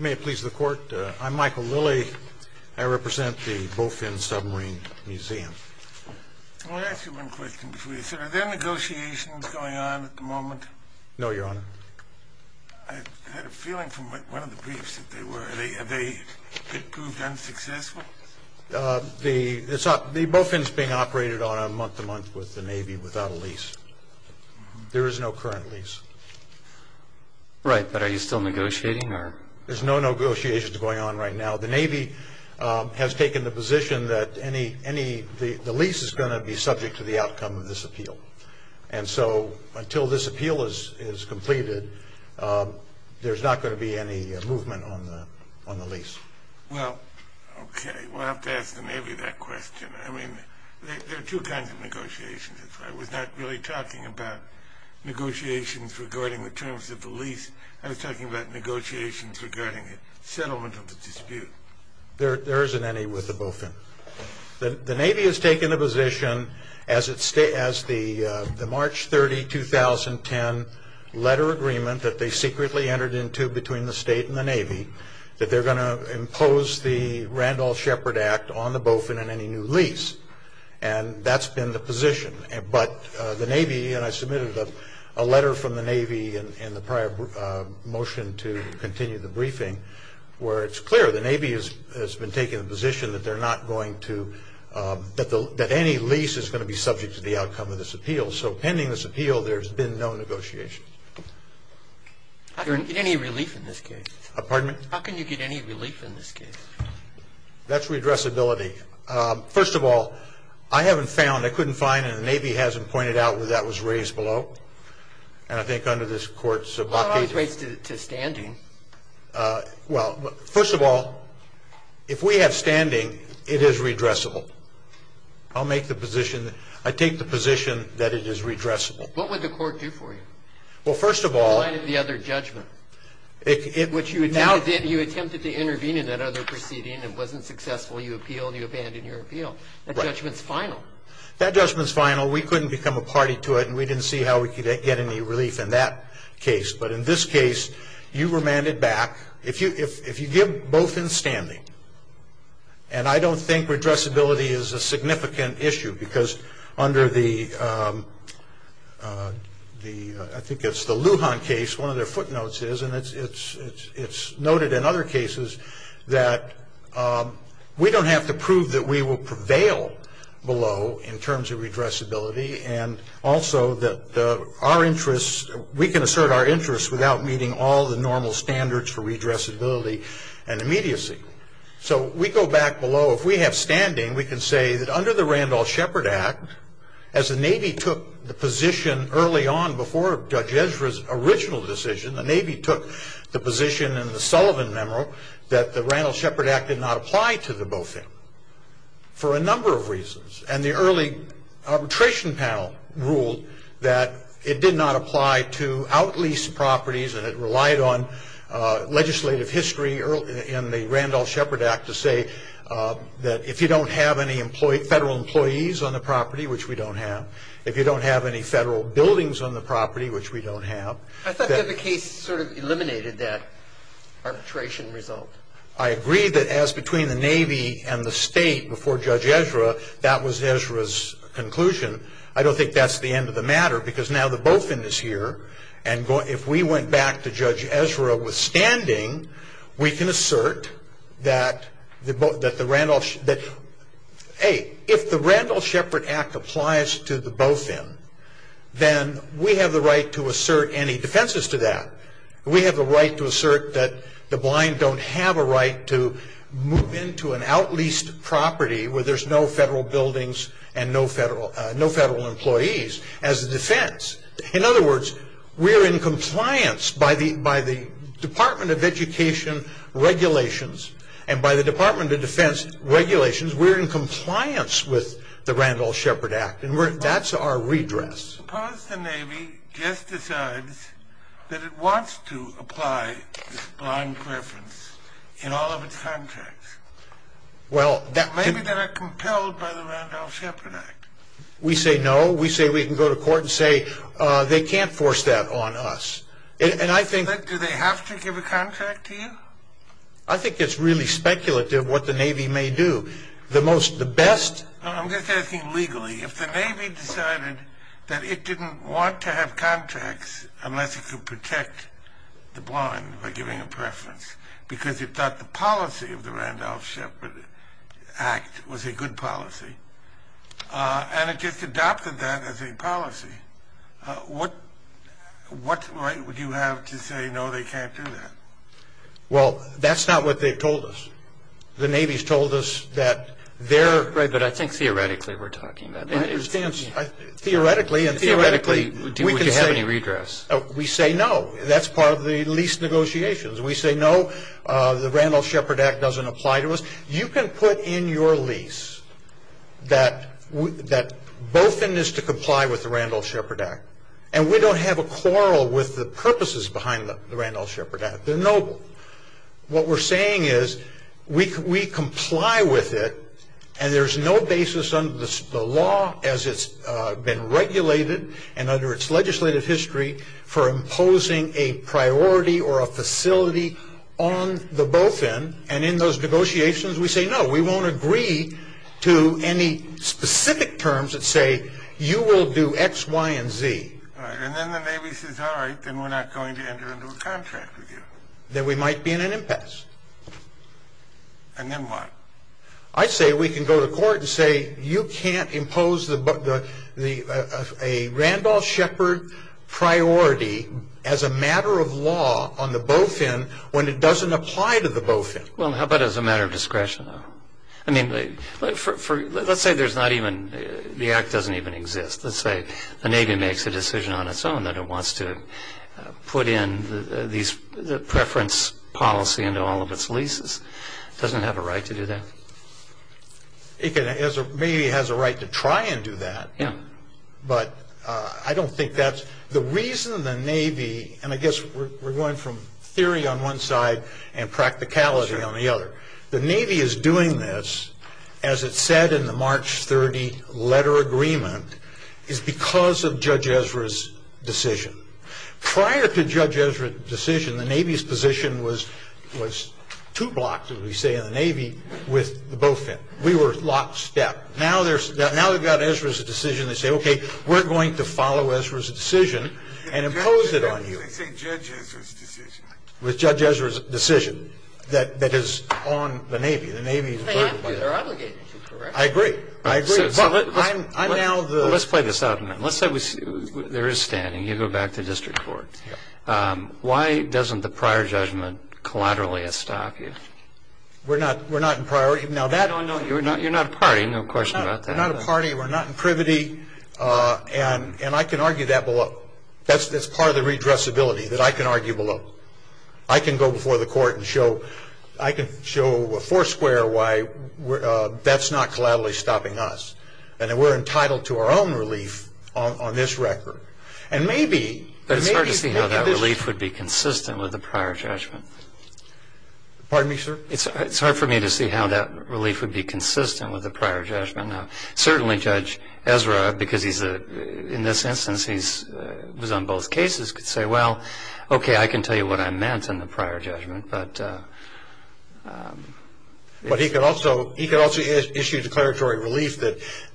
May it please the Court, I'm Michael Lilly. I represent the Bofin Submarine Museum. Let me ask you one question before you start. Are there negotiations going on at the moment? No, Your Honor. I had a feeling from one of the briefs that they were. Have they proved unsuccessful? The Bofin is being operated on a month-to-month with the Navy without a lease. There is no current lease. Right, but are you still negotiating? There's no negotiations going on right now. The Navy has taken the position that the lease is going to be subject to the outcome of this appeal. And so until this appeal is completed, there's not going to be any movement on the lease. Well, okay, we'll have to ask the Navy that question. I mean, there are two kinds of negotiations. I was not really talking about negotiations regarding the terms of the lease. I was talking about negotiations regarding the settlement of the dispute. There isn't any with the Bofin. The Navy has taken the position as the March 30, 2010 letter agreement that they secretly entered into between the State and the Navy that they're going to impose the Randolph-Shepard Act on the Bofin and any new lease. And that's been the position. But the Navy, and I submitted a letter from the Navy in the prior motion to continue the briefing, where it's clear the Navy has been taking the position that they're not going to, that any lease is going to be subject to the outcome of this appeal. So pending this appeal, there's been no negotiation. Are there any relief in this case? Pardon me? How can you get any relief in this case? That's redressability. First of all, I haven't found, I couldn't find, and the Navy hasn't pointed out whether that was raised below. And I think under this Court's blockage. Well, it was raised to standing. Well, first of all, if we have standing, it is redressable. I'll make the position, I take the position that it is redressable. What would the Court do for you? Well, first of all. You provided the other judgment, which you now did. You attempted to intervene in that other proceeding. It wasn't successful. You appealed. You abandoned your appeal. That judgment's final. That judgment's final. We couldn't become a party to it, and we didn't see how we could get any relief in that case. But in this case, you remanded back. If you give both in standing, and I don't think redressability is a significant issue, because under the, I think it's the Lujan case, one of their footnotes is, and it's noted in other cases, that we don't have to prove that we will prevail below in terms of redressability, and also that our interests, we can assert our interests without meeting all the normal standards for redressability and immediacy. So we go back below. If we have standing, we can say that under the Randolph-Shepard Act, as the Navy took the position early on before Judge Ezra's original decision, the Navy took the position in the Sullivan memo that the Randolph-Shepard Act did not apply to the BOFIM for a number of reasons, and the early arbitration panel ruled that it did not apply to out-lease properties and it relied on legislative history in the Randolph-Shepard Act to say that if you don't have any federal employees on the property, which we don't have, if you don't have any federal buildings on the property, which we don't have. I thought that the case sort of eliminated that arbitration result. I agree that as between the Navy and the state before Judge Ezra, that was Ezra's conclusion. I don't think that's the end of the matter, because now the BOFIM is here, and if we went back to Judge Ezra with standing, we can assert that if the Randolph-Shepard Act applies to the BOFIM, then we have the right to assert any defenses to that. We have the right to assert that the blind don't have a right to move into an out-leased property where there's no federal buildings and no federal employees as a defense. In other words, we're in compliance by the Department of Education regulations and by the Department of Defense regulations. We're in compliance with the Randolph-Shepard Act, and that's our redress. Suppose the Navy just decides that it wants to apply this blind preference in all of its contracts. Well, that could... Maybe they're not compelled by the Randolph-Shepard Act. We say no. We say we can go to court and say they can't force that on us. And I think... But do they have to give a contract to you? I think it's really speculative what the Navy may do. The most, the best... I'm just asking legally. If the Navy decided that it didn't want to have contracts unless it could protect the blind by giving a preference because it thought the policy of the Randolph-Shepard Act was a good policy, and it just adopted that as a policy, what right would you have to say no, they can't do that? Well, that's not what they've told us. The Navy's told us that they're... Right, but I think theoretically we're talking about... Theoretically... Theoretically, would you have any redress? We say no. That's part of the lease negotiations. We say no, the Randolph-Shepard Act doesn't apply to us. You can put in your lease that Bofin is to comply with the Randolph-Shepard Act, and we don't have a quarrel with the purposes behind the Randolph-Shepard Act. They're noble. What we're saying is we comply with it, and there's no basis under the law as it's been regulated and under its legislative history for imposing a priority or a facility on the Bofin, and in those negotiations we say no, we won't agree to any specific terms that say you will do X, Y, and Z. All right, and then the Navy says, all right, then we're not going to enter into a contract with you. Then we might be in an impasse. And then what? I say we can go to court and say you can't impose a Randolph-Shepard priority as a matter of law on the Bofin when it doesn't apply to the Bofin. Well, how about as a matter of discretion? I mean, let's say there's not even the Act doesn't even exist. Let's say the Navy makes a decision on its own that it wants to put in these preference policy into all of its leases. It doesn't have a right to do that. It maybe has a right to try and do that, but I don't think that's the reason the Navy, and I guess we're going from theory on one side and practicality on the other. The Navy is doing this, as it said in the March 30 letter agreement, is because of Judge Ezra's decision. Prior to Judge Ezra's decision, the Navy's position was two blocks, as we say in the Navy, with the Bofin. We were lockstep. Now they've got Ezra's decision. They say, okay, we're going to follow Ezra's decision and impose it on you. They say Judge Ezra's decision. With Judge Ezra's decision that is on the Navy. The Navy is burdened by that. They have to. They're obligated to, correct? I agree. I agree. Let's play this out a minute. There is standing. You go back to district court. Why doesn't the prior judgment collaterally stop you? We're not in priority. You're not a party. No question about that. We're not a party. We're not in privity. And I can argue that below. That's part of the redressability, that I can argue below. I can go before the court and show a four square why that's not collaterally stopping us. And that we're entitled to our own relief on this record. And maybe. But it's hard to see how that relief would be consistent with the prior judgment. Pardon me, sir? It's hard for me to see how that relief would be consistent with the prior judgment. Certainly Judge Ezra, because he's in this instance, he was on both cases, could say, well, okay, I can tell you what I meant in the prior judgment. But he could also issue declaratory relief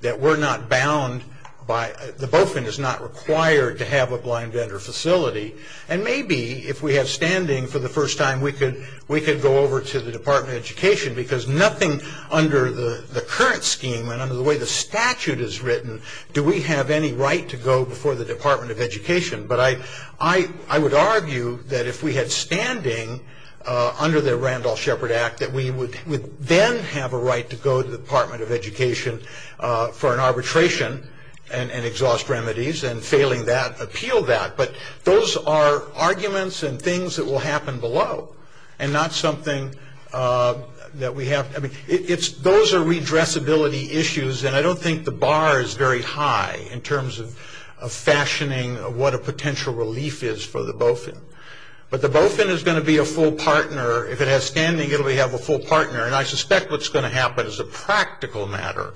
that we're not bound by, the BOFIN is not required to have a blind vendor facility. And maybe if we have standing for the first time, we could go over to the Department of Education. Because nothing under the current scheme and under the way the statute is written, do we have any right to go before the Department of Education. But I would argue that if we had standing under the Randolph Shepard Act, that we would then have a right to go to the Department of Education for an arbitration and exhaust remedies and failing that, appeal that. But those are arguments and things that will happen below. And not something that we have, I mean, those are redressability issues. And I don't think the bar is very high in terms of fashioning what a potential relief is for the BOFIN. But the BOFIN is going to be a full partner. If it has standing, it will have a full partner. And I suspect what's going to happen as a practical matter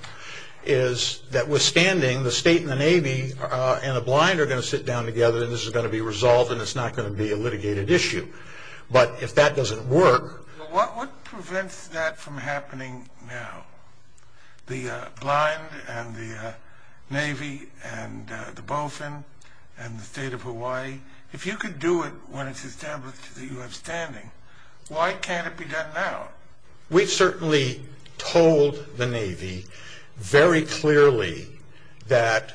is that withstanding, the state and the Navy and a blind are going to sit down together and this is going to be resolved and it's not going to be a litigated issue. But if that doesn't work. What prevents that from happening now? The blind and the Navy and the BOFIN and the state of Hawaii. If you can do it when it's established that you have standing, why can't it be done now? We certainly told the Navy very clearly that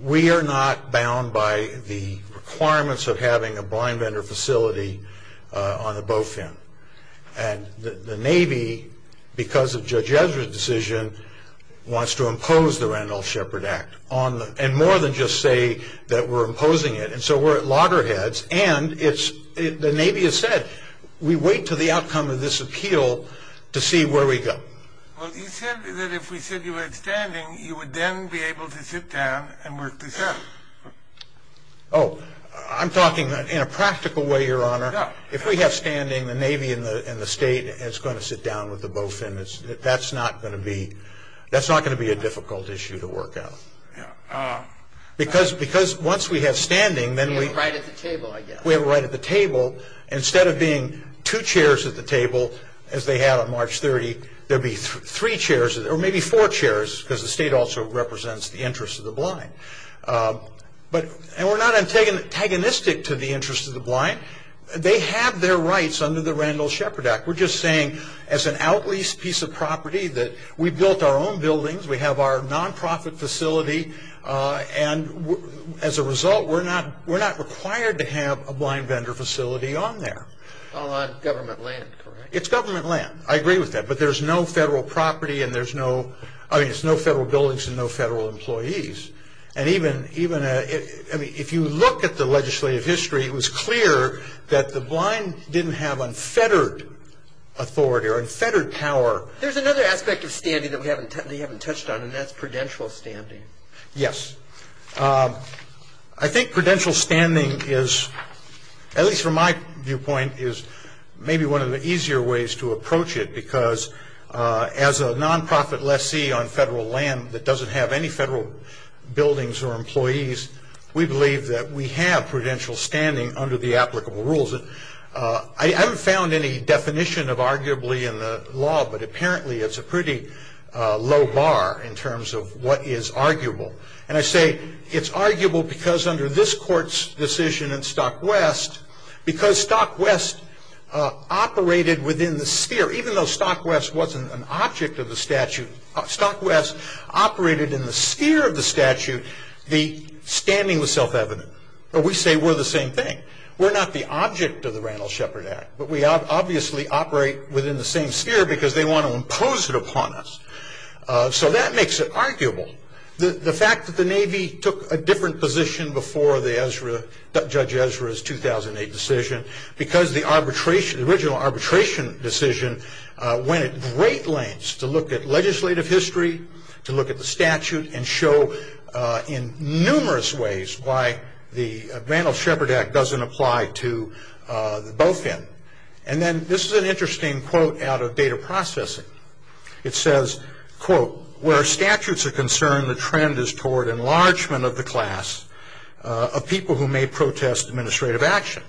we are not bound by the requirements of having a blind vendor facility on the BOFIN. And the Navy, because of Judge Ezra's decision, wants to impose the Randolph-Shepard Act. And more than just say that we're imposing it. And so we're at loggerheads and the Navy has said, we wait to the outcome of this appeal to see where we go. Well, you said that if we said you had standing, you would then be able to sit down and work this out. Oh, I'm talking in a practical way, Your Honor. If we have standing, the Navy and the state is going to sit down with the BOFIN. That's not going to be a difficult issue to work out. Because once we have standing, then we have a right at the table. Instead of being two chairs at the table, as they had on March 30, there will be three chairs or maybe four chairs because the state also represents the interest of the blind. And we're not antagonistic to the interest of the blind. They have their rights under the Randolph-Shepard Act. We're just saying as an out-leased piece of property that we built our own buildings, we have our non-profit facility, and as a result, we're not required to have a blind vendor facility on there. All on government land, correct? It's government land. I agree with that. But there's no federal property and there's no – I mean, there's no federal buildings and no federal employees. And even – I mean, if you look at the legislative history, it was clear that the blind didn't have unfettered authority or unfettered power. There's another aspect of standing that we haven't touched on, and that's prudential standing. Yes. I think prudential standing is, at least from my viewpoint, is maybe one of the easier ways to approach it because as a non-profit lessee on federal land that doesn't have any federal buildings or employees, we believe that we have prudential standing under the applicable rules. I haven't found any definition of arguably in the law, but apparently it's a pretty low bar in terms of what is arguable. And I say it's arguable because under this court's decision in Stock West, because Stock West operated within the sphere, even though Stock West wasn't an object of the statute, Stock West operated in the sphere of the statute, the standing was self-evident. But we say we're the same thing. We're not the object of the Randall Shepard Act, but we obviously operate within the same sphere because they want to impose it upon us. So that makes it arguable. The fact that the Navy took a different position before Judge Ezra's 2008 decision because the original arbitration decision went at great lengths to look at legislative history, to look at the statute, and show in numerous ways why the Randall Shepard Act doesn't apply to both ends. And then this is an interesting quote out of data processing. It says, quote, where statutes are concerned the trend is toward enlargement of the class of people who may protest administrative action.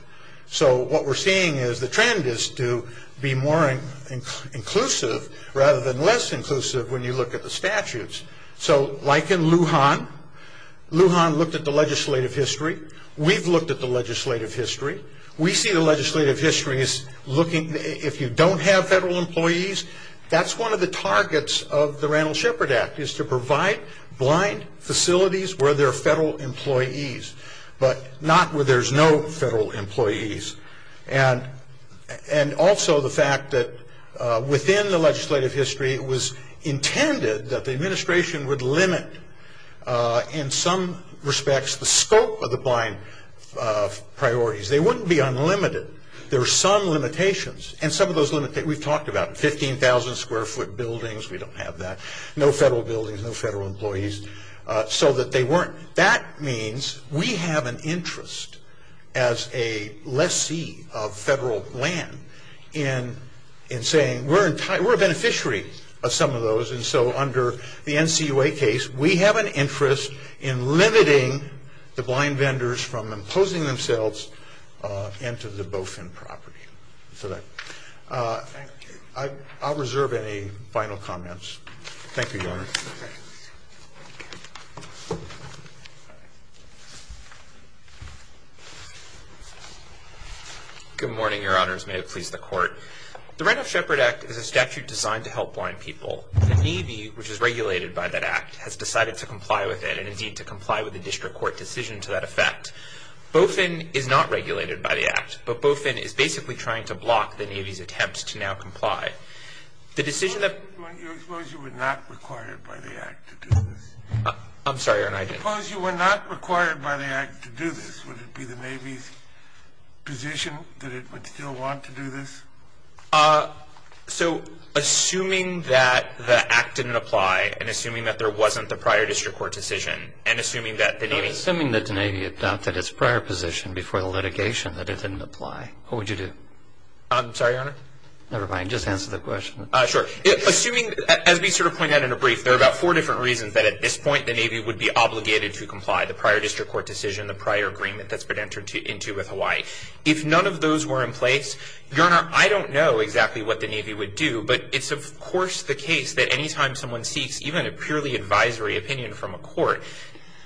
So what we're seeing is the trend is to be more inclusive rather than less inclusive when you look at the statutes. So like in Lujan, Lujan looked at the legislative history. We've looked at the legislative history. We see the legislative history as looking, if you don't have federal employees, that's one of the targets of the Randall Shepard Act is to provide blind facilities where there are federal employees, but not where there's no federal employees. And also the fact that within the legislative history, it was intended that the administration would limit in some respects the scope of the blind priorities. They wouldn't be unlimited. There are some limitations, and some of those limitations we've talked about, 15,000 square foot buildings, we don't have that, no federal buildings, no federal employees, so that they weren't. That means we have an interest as a lessee of federal land in saying we're a beneficiary of some of those, and so under the NCUA case, we have an interest in limiting the blind vendors from imposing themselves into the Bofin property. I'll reserve any final comments. Thank you, Your Honor. Good morning, Your Honors. May it please the Court. The Randall Shepard Act is a statute designed to help blind people. The Navy, which is regulated by that Act, has decided to comply with it, and indeed to comply with the district court decision to that effect. Bofin is not regulated by the Act, but Bofin is basically trying to block the Navy's attempts to now comply. The decision that- Suppose you were not required by the Act to do this. I'm sorry, Your Honor, I didn't- Suppose you were not required by the Act to do this. Would it be the Navy's position that it would still want to do this? So assuming that the Act didn't apply and assuming that there wasn't the prior district court decision and assuming that the Navy- No, assuming that the Navy adopted its prior position before the litigation that it didn't apply, what would you do? I'm sorry, Your Honor? Never mind. Just answer the question. Sure. Assuming, as we sort of pointed out in a brief, there are about four different reasons that at this point the Navy would be obligated to comply, the prior district court decision, the prior agreement that's been entered into with Hawaii. If none of those were in place, Your Honor, I don't know exactly what the Navy would do, but it's of course the case that any time someone seeks even a purely advisory opinion from a court,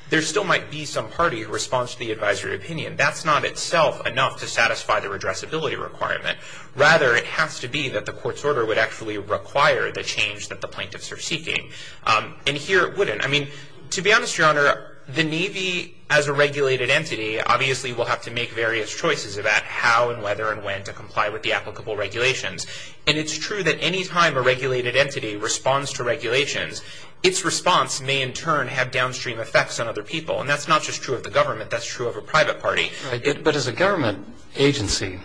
there still might be some party who responds to the advisory opinion. That's not itself enough to satisfy the redressability requirement. Rather, it has to be that the court's order would actually require the change that the plaintiffs are seeking, and here it wouldn't. I mean, to be honest, Your Honor, the Navy, as a regulated entity, obviously will have to make various choices about how and whether and when to comply with the applicable regulations, and it's true that any time a regulated entity responds to regulations, its response may in turn have downstream effects on other people, and that's not just true of the government. That's true of a private party. But as a government agency,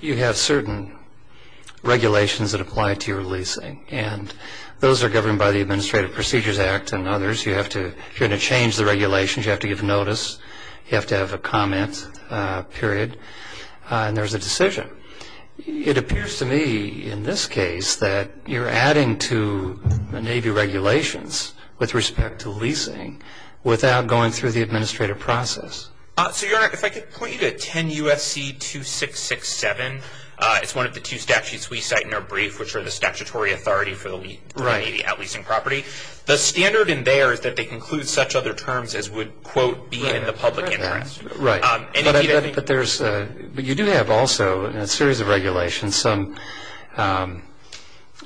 you have certain regulations that apply to your leasing, and those are governed by the Administrative Procedures Act and others. You have to change the regulations. You have to give notice. You have to have a comment, period, and there's a decision. It appears to me in this case that you're adding to the Navy regulations with respect to leasing without going through the administrative process. So, Your Honor, if I could point you to 10 U.S.C. 2667. It's one of the two statutes we cite in our brief, which are the statutory authority for the Navy outleasing property. The standard in there is that they include such other terms as would, quote, be in the public interest. Right. But you do have also, in a series of regulations, a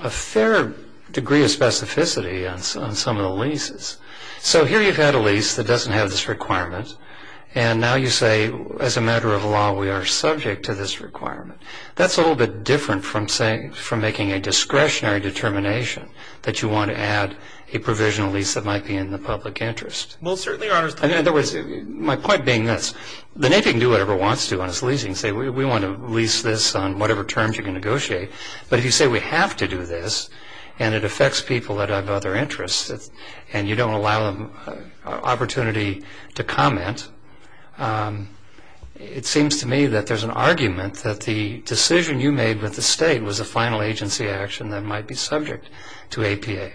fair degree of specificity on some of the leases. So here you've had a lease that doesn't have this requirement, and now you say, as a matter of law, we are subject to this requirement. That's a little bit different from saying, from making a discretionary determination that you want to add a provisional lease that might be in the public interest. Well, certainly, Your Honor. In other words, my point being this. The Navy can do whatever it wants to on its leasing. Say, we want to lease this on whatever terms you can negotiate, but if you say we have to do this and it affects people that have other interests and you don't allow them opportunity to comment, it seems to me that there's an argument that the decision you made with the state was a final agency action that might be subject to APA.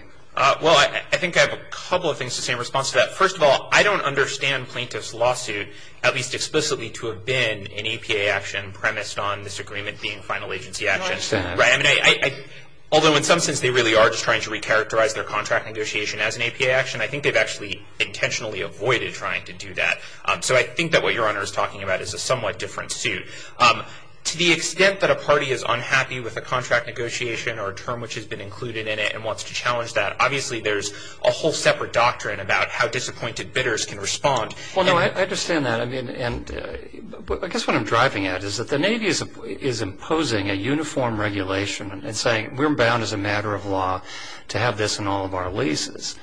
Well, I think I have a couple of things to say in response to that. First of all, I don't understand Plaintiff's lawsuit, at least explicitly, to have been an APA action premised on this agreement being final agency action. I understand. Although, in some sense, they really are just trying to recharacterize their contract negotiation as an APA action, I think they've actually intentionally avoided trying to do that. So I think that what Your Honor is talking about is a somewhat different suit. To the extent that a party is unhappy with a contract negotiation or a term which has been included in it and wants to challenge that, obviously there's a whole separate doctrine about how disappointed bidders can respond. Well, no, I understand that. I guess what I'm driving at is that the Navy is imposing a uniform regulation and saying we're bound as a matter of law to have this in all of our leases.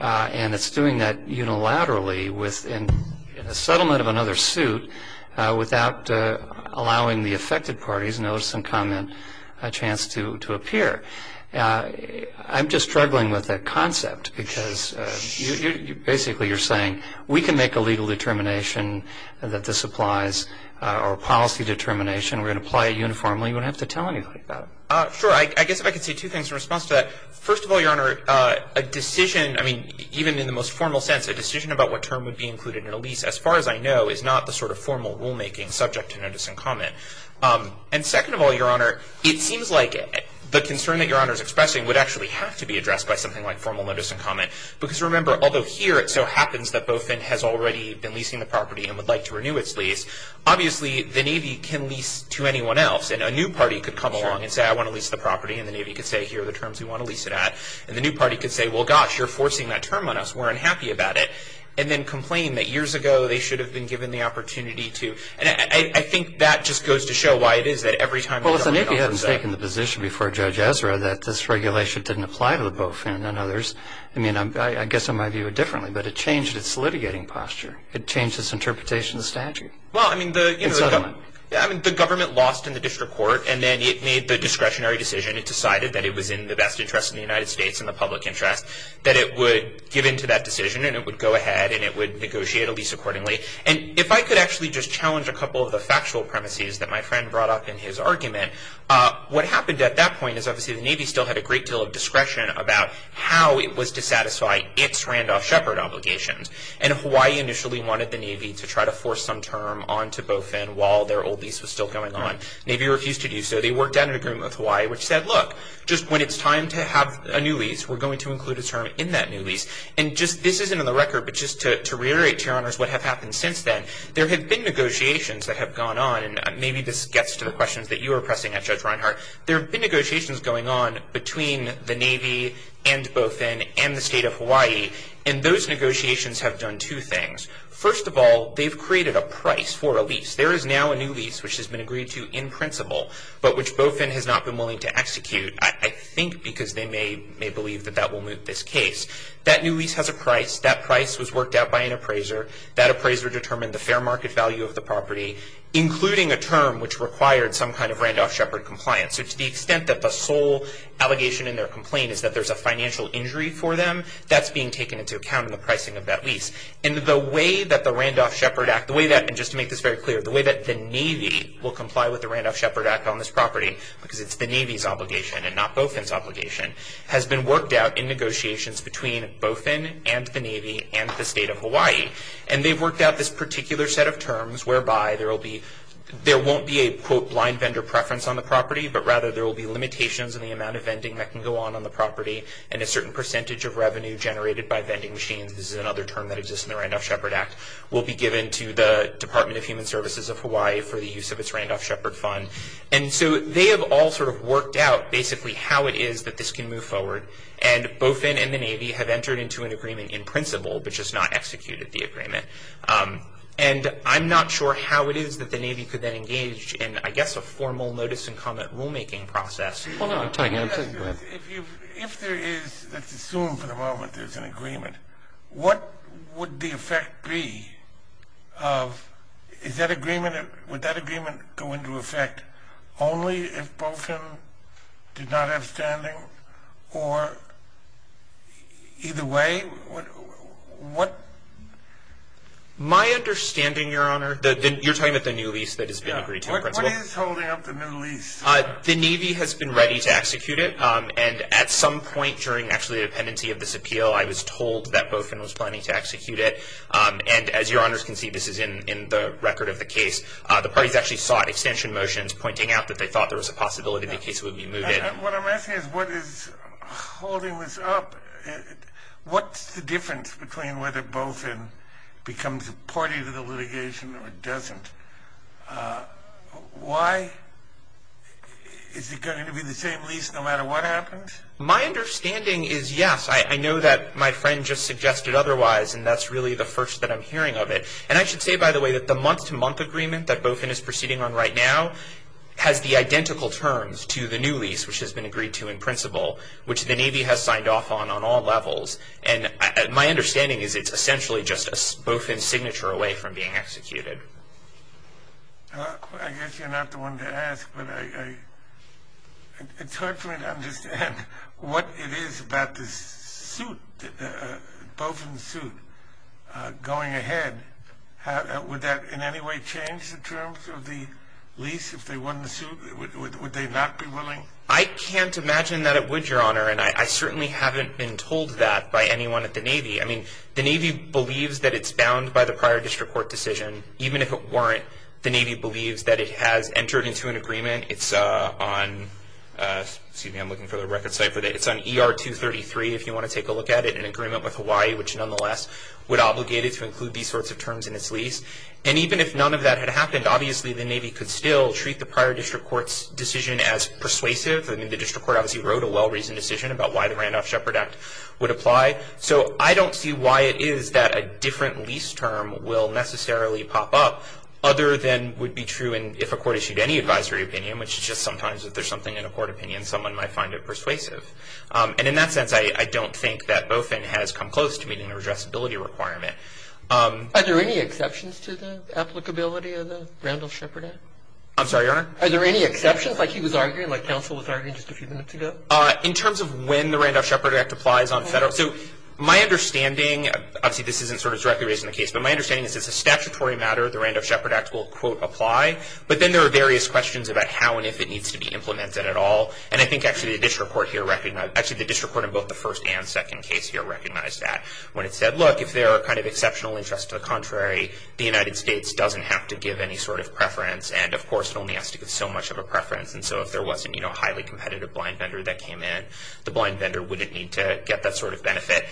And it's doing that unilaterally in a settlement of another suit without allowing the affected parties notice and comment a chance to appear. I'm just struggling with that concept because basically you're saying we can make a legal determination that this applies or a policy determination. We're going to apply it uniformly. We don't have to tell anybody about it. Sure. I guess if I could say two things in response to that. First of all, Your Honor, a decision, I mean, even in the most formal sense, a decision about what term would be included in a lease, as far as I know, is not the sort of formal rulemaking subject to notice and comment. And second of all, Your Honor, it seems like the concern that Your Honor is expressing would actually have to be addressed by something like formal notice and comment. Because remember, although here it so happens that BOFIN has already been leasing the property and would like to renew its lease, obviously the Navy can lease to anyone else. And a new party could come along and say, I want to lease the property. And the Navy could say, here are the terms we want to lease it at. And the new party could say, well, gosh, you're forcing that term on us. We're unhappy about it. And then complain that years ago they should have been given the opportunity to. And I think that just goes to show why it is that every time the government offers that. Well, if the Navy hadn't taken the position before Judge Ezra that this regulation didn't apply to the BOFIN and others, I mean, I guess I might view it differently. But it changed its litigating posture. It changed its interpretation of the statute. Well, I mean, the government lost in the district court. And then it made the discretionary decision. It decided that it was in the best interest of the United States and the public interest, that it would give in to that decision and it would go ahead and it would negotiate a lease accordingly. And if I could actually just challenge a couple of the factual premises that my friend brought up in his argument, what happened at that point is obviously the Navy still had a great deal of discretion about how it was to satisfy its Randolph Shepard obligations. And Hawaii initially wanted the Navy to try to force some term onto BOFIN while their old lease was still going on. The Navy refused to do so. They worked out an agreement with Hawaii which said, look, just when it's time to have a new lease, we're going to include a term in that new lease. And just this isn't on the record, but just to reiterate to your honors what has happened since then, there have been negotiations that have gone on. And maybe this gets to the questions that you were pressing at Judge Reinhart. There have been negotiations going on between the Navy and BOFIN and the State of Hawaii. And those negotiations have done two things. First of all, they've created a price for a lease. There is now a new lease which has been agreed to in principle but which BOFIN has not been willing to execute, I think because they may believe that that will moot this case. That new lease has a price. That price was worked out by an appraiser. That appraiser determined the fair market value of the property, including a term which required some kind of Randolph Shepard compliance. So to the extent that the sole allegation in their complaint is that there's a financial injury for them, that's being taken into account in the pricing of that lease. And the way that the Randolph Shepard Act, and just to make this very clear, the way that the Navy will comply with the Randolph Shepard Act on this property, has been worked out in negotiations between BOFIN and the Navy and the State of Hawaii. And they've worked out this particular set of terms whereby there won't be a, quote, blind vendor preference on the property, but rather there will be limitations in the amount of vending that can go on on the property and a certain percentage of revenue generated by vending machines, this is another term that exists in the Randolph Shepard Act, will be given to the Department of Human Services of Hawaii for the use of its Randolph Shepard Fund. And so they have all sort of worked out basically how it is that this can move forward. And BOFIN and the Navy have entered into an agreement in principle, but just not executed the agreement. And I'm not sure how it is that the Navy could then engage in, I guess, a formal notice and comment rulemaking process. Hold on. If there is, let's assume for the moment there's an agreement, what would the effect be of, is that agreement, would that agreement go into effect only if BOFIN did not have standing, or either way, what? My understanding, Your Honor, you're talking about the new lease that has been agreed to in principle. What is holding up the new lease? The Navy has been ready to execute it. And at some point during actually the dependency of this appeal, I was told that BOFIN was planning to execute it. And as Your Honors can see, this is in the record of the case, the parties actually sought extension motions pointing out that they thought there was a possibility the case would be moved in. What I'm asking is what is holding this up? What's the difference between whether BOFIN becomes a party to the litigation or it doesn't? Why is it going to be the same lease no matter what happens? My understanding is, yes, I know that my friend just suggested otherwise, and that's really the first that I'm hearing of it. And I should say, by the way, that the month-to-month agreement that BOFIN is proceeding on right now has the identical terms to the new lease, which has been agreed to in principle, which the Navy has signed off on on all levels. And my understanding is it's essentially just a BOFIN signature away from being executed. I guess you're not the one to ask. But it's hard for me to understand what it is about this suit, BOFIN suit, going ahead. Would that in any way change the terms of the lease if they won the suit? Would they not be willing? I can't imagine that it would, Your Honor. And I certainly haven't been told that by anyone at the Navy. I mean, the Navy believes that it's bound by the prior district court decision. Even if it weren't, the Navy believes that it has entered into an agreement. It's on ER-233, if you want to take a look at it, an agreement with Hawaii, which nonetheless would obligate it to include these sorts of terms in its lease. And even if none of that had happened, obviously the Navy could still treat the prior district court's decision as persuasive. I mean, the district court obviously wrote a well-reasoned decision about why the Randolph-Shepherd Act would apply. So I don't see why it is that a different lease term will necessarily pop up other than would be true if a court issued any advisory opinion, which is just sometimes if there's something in a court opinion, someone might find it persuasive. And in that sense, I don't think that BOFIN has come close to meeting the redressability requirement. Are there any exceptions to the applicability of the Randolph-Shepherd Act? I'm sorry, Your Honor? Are there any exceptions, like he was arguing, like counsel was arguing just a few minutes ago? In terms of when the Randolph-Shepherd Act applies on federal— so my understanding, obviously this isn't sort of directly raised in the case, but my understanding is it's a statutory matter. The Randolph-Shepherd Act will, quote, apply. But then there are various questions about how and if it needs to be implemented at all. And I think actually the district court here recognized—actually the district court in both the first and second case here recognized that when it said, look, if there are kind of exceptional interests to the contrary, the United States doesn't have to give any sort of preference. And of course, it only has to give so much of a preference. And so if there wasn't a highly competitive blind vendor that came in, the blind vendor wouldn't need to get that sort of benefit.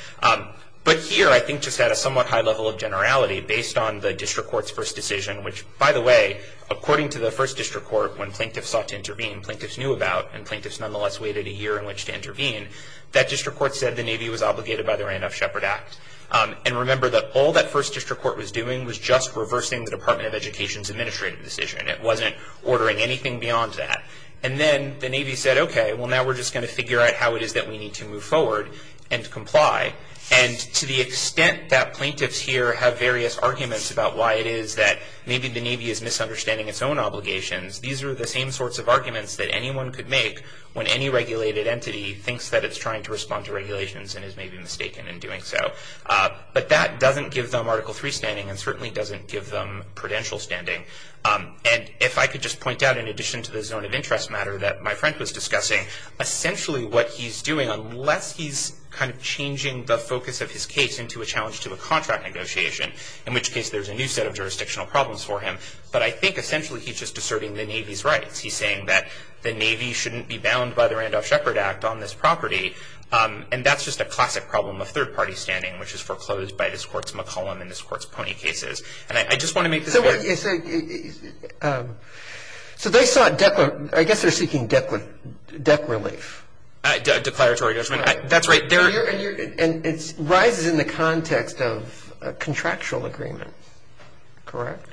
But here, I think just at a somewhat high level of generality, based on the district court's first decision, which, by the way, according to the first district court, when plaintiffs sought to intervene, plaintiffs knew about, and plaintiffs nonetheless waited a year in which to intervene, that district court said the Navy was obligated by the Randolph-Shepherd Act. And remember that all that first district court was doing was just reversing the Department of Education's administrative decision. It wasn't ordering anything beyond that. And then the Navy said, okay, well, now we're just going to figure out how it is that we need to move forward and comply. And to the extent that plaintiffs here have various arguments about why it is that maybe the Navy is misunderstanding its own obligations, these are the same sorts of arguments that anyone could make when any regulated entity thinks that it's trying to respond to regulations and is maybe mistaken in doing so. But that doesn't give them Article III standing and certainly doesn't give them prudential standing. And if I could just point out, in addition to the zone of interest matter that my friend was discussing, essentially what he's doing, unless he's kind of changing the focus of his case into a challenge to a contract negotiation, in which case there's a new set of jurisdictional problems for him, but I think essentially he's just asserting the Navy's rights. He's saying that the Navy shouldn't be bound by the Randolph-Shepherd Act on this property, and that's just a classic problem of third-party standing, which is foreclosed by this court's McCollum and this court's Poney cases. And I just want to make this clear. So they sought deck – I guess they're seeking deck relief. Declaratory judgment. That's right. And it rises in the context of a contractual agreement. Correct?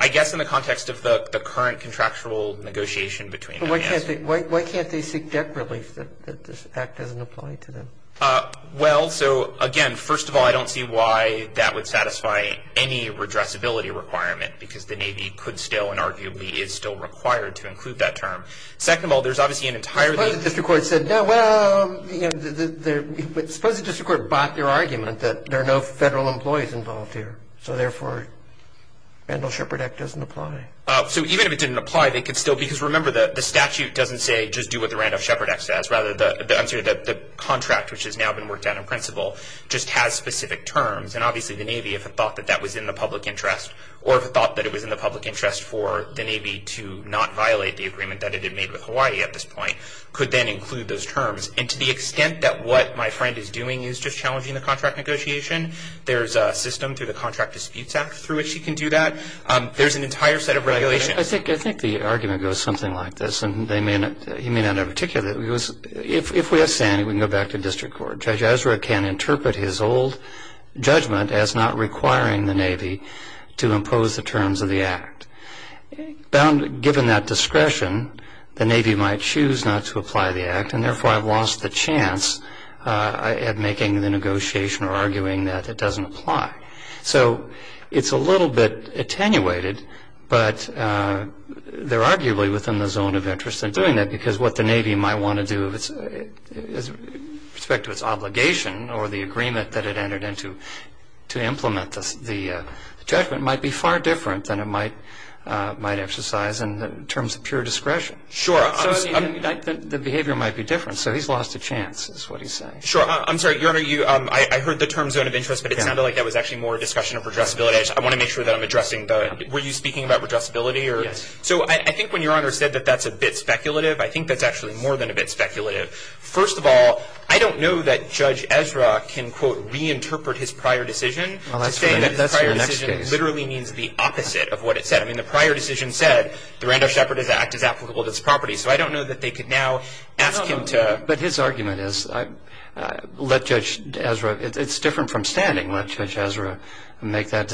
I guess in the context of the current contractual negotiation between them, yes. But why can't they seek deck relief that this Act doesn't apply to them? Well, so, again, first of all, I don't see why that would satisfy any redressability requirement, because the Navy could still and arguably is still required to include that term. Second of all, there's obviously an entire – But suppose the district court said, well, you know, suppose the district court bought your argument that there are no federal employees involved here, so therefore the Randolph-Shepherd Act doesn't apply. So even if it didn't apply, they could still – because remember, the statute doesn't say just do what the Randolph-Shepherd Act says. Rather, the contract, which has now been worked out in principle, just has specific terms. And obviously the Navy, if it thought that that was in the public interest or if it thought that it was in the public interest for the Navy to not violate the agreement that it had made with Hawaii at this point, could then include those terms. And to the extent that what my friend is doing is just challenging the contract negotiation, there's a system through the Contract Disputes Act through which he can do that. There's an entire set of regulations. I think the argument goes something like this, and he may not know particularly. If we have sanity, we can go back to district court. Judge Ezra can interpret his old judgment as not requiring the Navy to impose the terms of the Act. Given that discretion, the Navy might choose not to apply the Act, and therefore I've lost the chance at making the negotiation or arguing that it doesn't apply. So it's a little bit attenuated, but they're arguably within the zone of interest in doing that because what the Navy might want to do with respect to its obligation or the agreement that it entered into to implement the judgment might be far different than it might exercise in terms of pure discretion. Sure. The behavior might be different. So he's lost a chance is what he's saying. Sure. I'm sorry, Your Honor, I heard the term zone of interest, but it sounded like that was actually more a discussion of redressability. I want to make sure that I'm addressing the – were you speaking about redressability? Yes. So I think when Your Honor said that that's a bit speculative, I think that's actually more than a bit speculative. First of all, I don't know that Judge Ezra can, quote, reinterpret his prior decision to say that his prior decision literally means the opposite of what it said. I mean, the prior decision said the Randolph Shepherd Act is applicable to its property, so I don't know that they could now ask him to – But his argument is let Judge Ezra – it's different from standing. Let Judge Ezra make that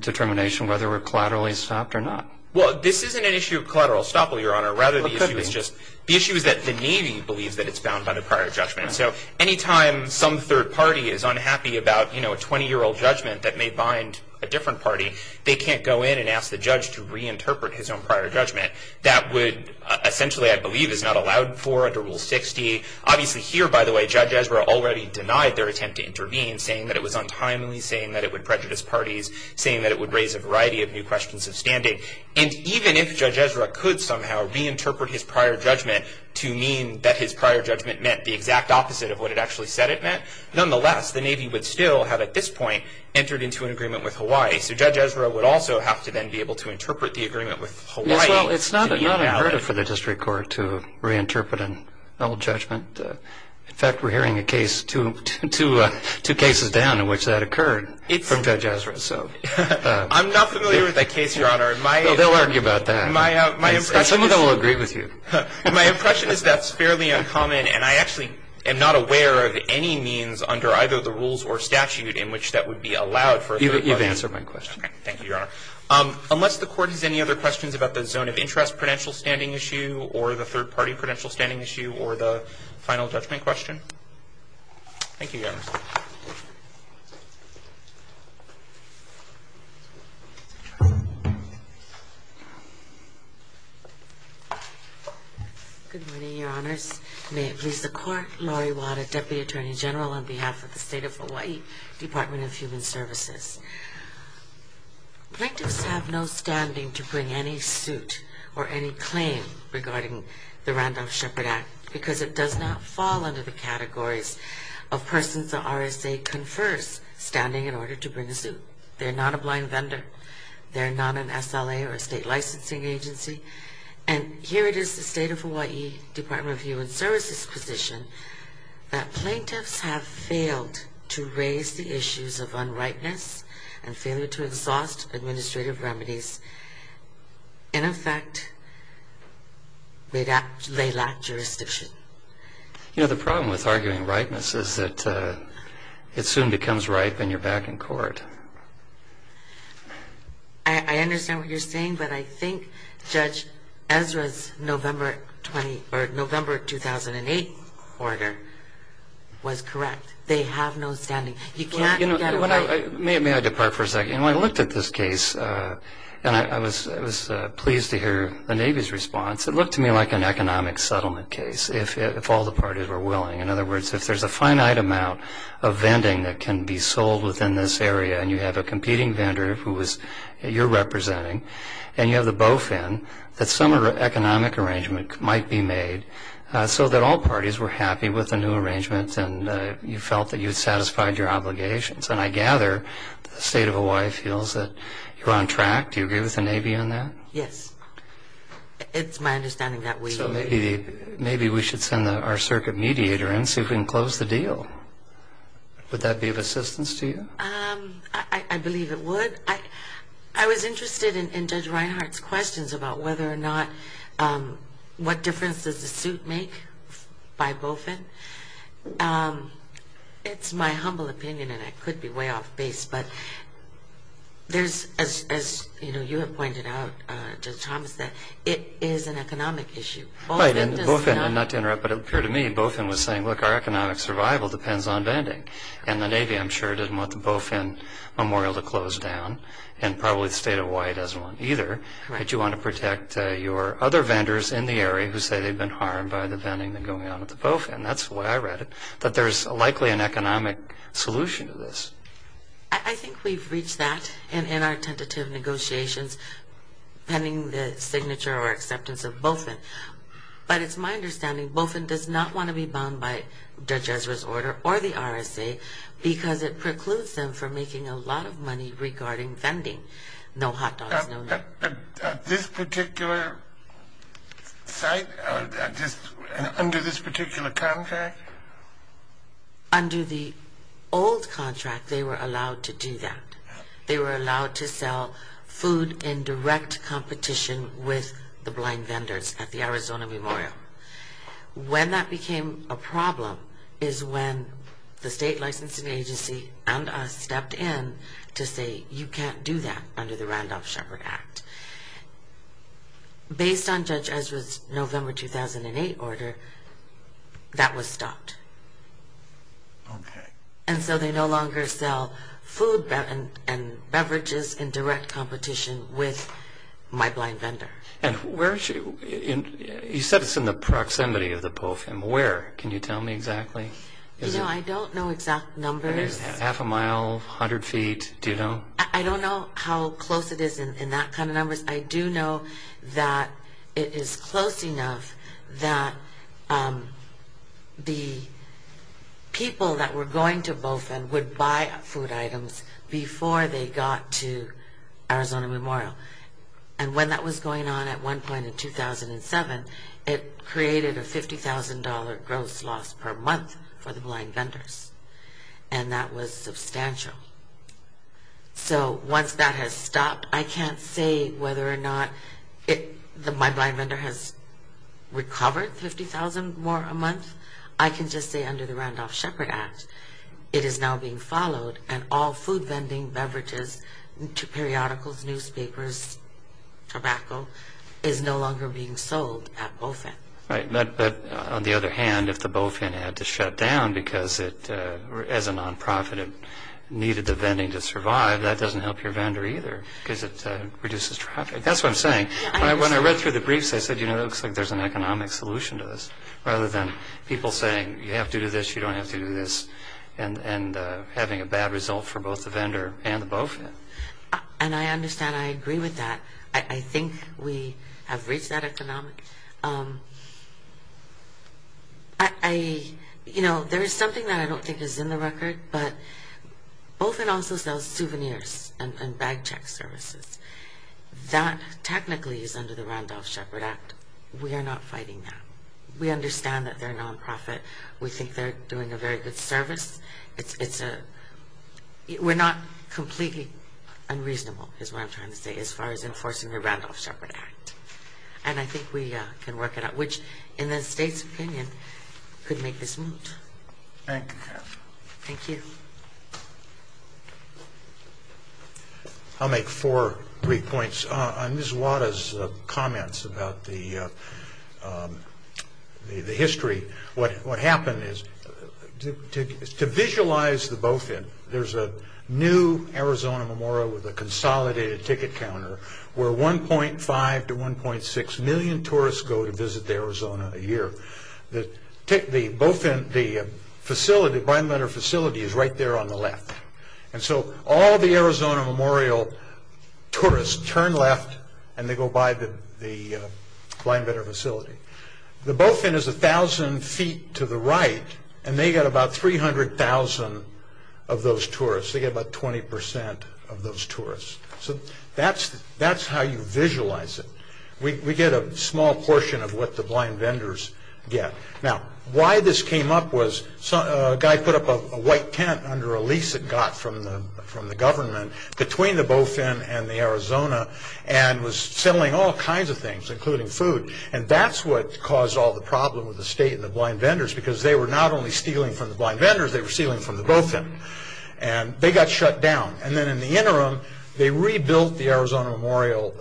determination whether we're collaterally stopped or not. Well, this isn't an issue of collateral stop, Your Honor. Rather, the issue is just – the issue is that the Navy believes that it's bound by the prior judgment. So any time some third party is unhappy about, you know, a 20-year-old judgment that may bind a different party, they can't go in and ask the judge to reinterpret his own prior judgment. That would – essentially, I believe, is not allowed for under Rule 60. Obviously, here, by the way, Judge Ezra already denied their attempt to intervene, saying that it was untimely, saying that it would prejudice parties, saying that it would raise a variety of new questions of standing. And even if Judge Ezra could somehow reinterpret his prior judgment to mean that his prior judgment meant the exact opposite of what it actually said it meant, nonetheless, the Navy would still have, at this point, entered into an agreement with Hawaii. So Judge Ezra would also have to then be able to interpret the agreement with Hawaii. Yes, well, it's not unheard of for the district court to reinterpret an old judgment. In fact, we're hearing a case – two cases down in which that occurred from Judge Ezra. I'm not familiar with that case, Your Honor. They'll argue about that. Some of them will agree with you. My impression is that's fairly uncommon, and I actually am not aware of any means under either the rules or statute in which that would be allowed for a third party. You've answered my question. Thank you, Your Honor. Unless the Court has any other questions about the zone of interest prudential standing issue or the third party prudential standing issue or the final judgment question. Thank you, Your Honor. Good morning, Your Honors. May it please the Court, Laurie Wada, Deputy Attorney General, on behalf of the State of Hawaii Department of Human Services. Plaintiffs have no standing to bring any suit or any claim regarding the Randolph-Shepard Act because it does not fall under the categories of persons the RSA confers standing in order to bring a suit. They're not a blind vendor. They're not an SLA or a state licensing agency. And here it is, the State of Hawaii Department of Human Services' position that plaintiffs have failed to raise the issues of unrightness and failure to exhaust administrative remedies. In effect, they lack jurisdiction. You know, the problem with arguing rightness is that it soon becomes ripe and you're back in court. I understand what you're saying, but I think Judge Ezra's November 2008 order was correct. They have no standing. You can't get away. May I depart for a second? When I looked at this case, and I was pleased to hear the Navy's response, it looked to me like an economic settlement case if all the parties were willing. In other words, if there's a finite amount of vending that can be sold within this area and you have a competing vendor who you're representing and you have the bow fin, that some economic arrangement might be made so that all parties were happy with the new arrangement and you felt that you had satisfied your obligations. And I gather the State of Hawaii feels that you're on track. Do you agree with the Navy on that? Yes. It's my understanding that we agree. So maybe we should send our circuit mediator in so we can close the deal. Would that be of assistance to you? I believe it would. I was interested in Judge Reinhart's questions about whether or not what difference does the suit make by bow fin. It's my humble opinion, and it could be way off base, but there's, as you have pointed out, Judge Thomas, that it is an economic issue. Bow fin does not. And, look, our economic survival depends on vending. And the Navy, I'm sure, didn't want the bow fin memorial to close down, and probably the State of Hawaii doesn't want it either. But you want to protect your other vendors in the area who say they've been harmed by the vending that's going on at the bow fin. That's the way I read it, that there's likely an economic solution to this. I think we've reached that in our tentative negotiations, pending the signature or acceptance of bow fin. But it's my understanding bow fin does not want to be bound by Judge Ezra's order or the RSA because it precludes them from making a lot of money regarding vending. No hot dogs, no nothing. This particular site, under this particular contract? Under the old contract, they were allowed to do that. They were allowed to sell food in direct competition with the blind vendors at the Arizona memorial. When that became a problem is when the state licensing agency and us stepped in to say you can't do that under the Randolph-Shepard Act. Based on Judge Ezra's November 2008 order, that was stopped. Okay. And so they no longer sell food and beverages in direct competition with my blind vendor. And where is she? You said it's in the proximity of the bow fin. Where, can you tell me exactly? You know, I don't know exact numbers. Half a mile, 100 feet, do you know? I don't know how close it is in that kind of numbers. I do know that it is close enough that the people that were going to bow fin would buy food items before they got to Arizona memorial. And when that was going on at one point in 2007, it created a $50,000 gross loss per month for the blind vendors. And that was substantial. So once that has stopped, I can't say whether or not my blind vendor has recovered $50,000 more a month. I can just say under the Randolph-Shepard Act, it is now being followed and all food vending, beverages, periodicals, newspapers, tobacco is no longer being sold at bow fin. Right, but on the other hand, if the bow fin had to shut down because it, as a nonprofit, it needed the vending to survive, that doesn't help your vendor either because it reduces traffic. That's what I'm saying. When I read through the briefs, I said, you know, it looks like there's an economic solution to this rather than people saying you have to do this, you don't have to do this and having a bad result for both the vendor and the bow fin. And I understand. I agree with that. I think we have reached that economic. I, you know, there is something that I don't think is in the record, but bow fin also sells souvenirs and bag check services. That technically is under the Randolph-Shepard Act. We are not fighting that. We understand that they're a nonprofit. We think they're doing a very good service. We're not completely unreasonable, is what I'm trying to say, as far as enforcing the Randolph-Shepard Act. And I think we can work it out, which, in the state's opinion, could make this moot. Thank you. Thank you. I'll make four brief points. On Ms. Wada's comments about the history, what happened is to visualize the bow fin, there's a new Arizona memorial with a consolidated ticket counter where 1.5 to 1.6 million tourists go to visit the Arizona a year. The bow fin, the facility, blind letter facility is right there on the left. And so all the Arizona memorial tourists turn left and they go by the blind letter facility. The bow fin is 1,000 feet to the right and they get about 300,000 of those tourists. They get about 20% of those tourists. So that's how you visualize it. We get a small portion of what the blind vendors get. Now, why this came up was a guy put up a white tent under a lease it got from the government between the bow fin and the Arizona and was selling all kinds of things, including food. And that's what caused all the problem with the state and the blind vendors because they were not only stealing from the blind vendors, they were stealing from the bow fin. And they got shut down. And then in the interim, they rebuilt the Arizona memorial,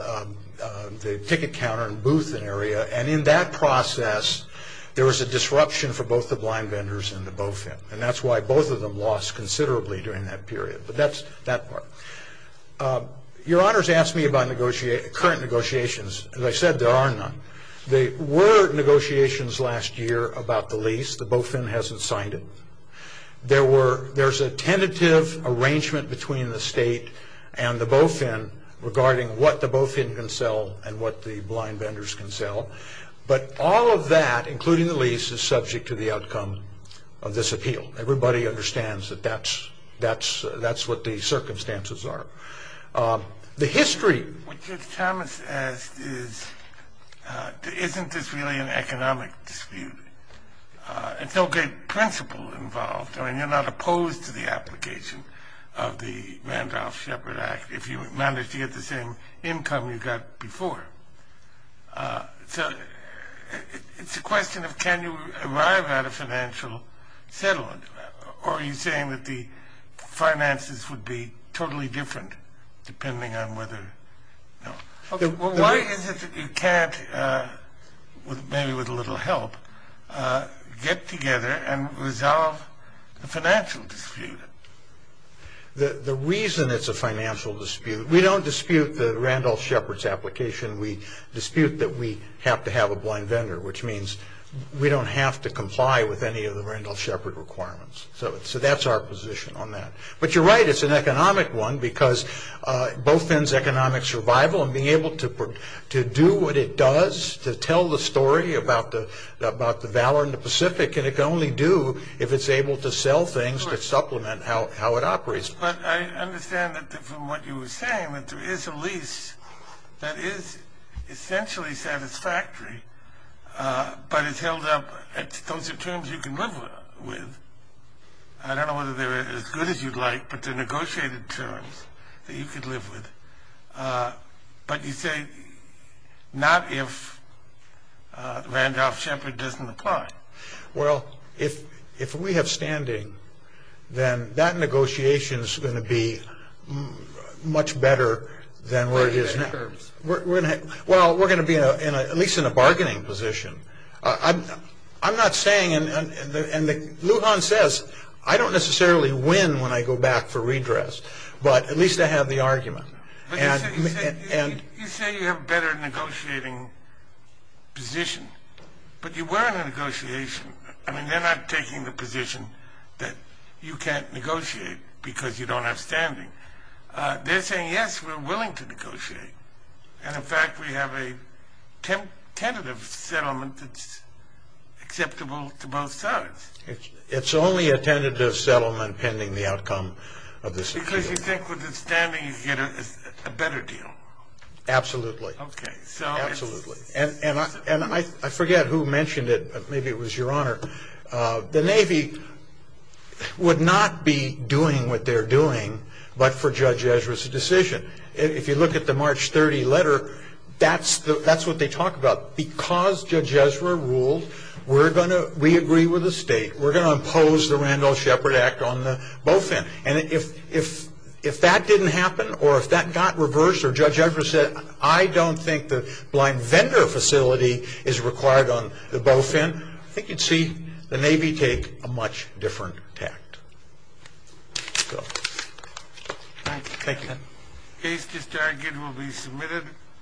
the ticket counter and booth area. And in that process, there was a disruption for both the blind vendors and the bow fin. And that's why both of them lost considerably during that period. But that's that part. Your honors asked me about current negotiations. As I said, there are none. There were negotiations last year about the lease. The bow fin hasn't signed it. There's a tentative arrangement between the state and the bow fin regarding what the bow fin can sell and what the blind vendors can sell. But all of that, including the lease, is subject to the outcome of this appeal. Everybody understands that that's what the circumstances are. The history. What Judge Thomas asked is, isn't this really an economic dispute? It's no good principle involved. I mean, you're not opposed to the application of the Randolph-Shepard Act if you manage to get the same income you got before. So it's a question of can you arrive at a financial settlement or are you saying that the finances would be totally different depending on whether... Why is it that you can't, maybe with a little help, get together and resolve the financial dispute? The reason it's a financial dispute, we don't dispute the Randolph-Shepard application. We dispute that we have to have a blind vendor, which means we don't have to comply with any of the Randolph-Shepard requirements. So that's our position on that. But you're right. It's an economic one because bow fin's economic survival and being able to do what it does to tell the story about the Valor in the Pacific, and it can only do if it's able to sell things to supplement how it operates. That is essentially satisfactory, but it's held up... Those are terms you can live with. I don't know whether they're as good as you'd like, but they're negotiated terms that you could live with. But you say not if Randolph-Shepard doesn't apply. Well, if we have standing, then that negotiation is going to be much better than where it is now. Well, we're going to be at least in a bargaining position. I'm not saying, and Lujan says, I don't necessarily win when I go back for redress, but at least I have the argument. But you say you have a better negotiating position, but you were in a negotiation. I mean, they're not taking the position that you can't negotiate because you don't have standing. They're saying, yes, we're willing to negotiate, and in fact we have a tentative settlement that's acceptable to both sides. It's only a tentative settlement pending the outcome of this agreement. Because you think with the standing you get a better deal. Absolutely. Okay. Absolutely. And I forget who mentioned it, but maybe it was Your Honor. The Navy would not be doing what they're doing but for Judge Ezra's decision. If you look at the March 30 letter, that's what they talk about. Because Judge Ezra ruled, we agree with the state, we're going to impose the Randolph-Shepard Act on both ends. And if that didn't happen or if that got reversed or Judge Ezra said, I don't think the blind vendor facility is required on both ends, I think you'd see the Navy take a much different tact. Thank you. The case to start again will be submitted.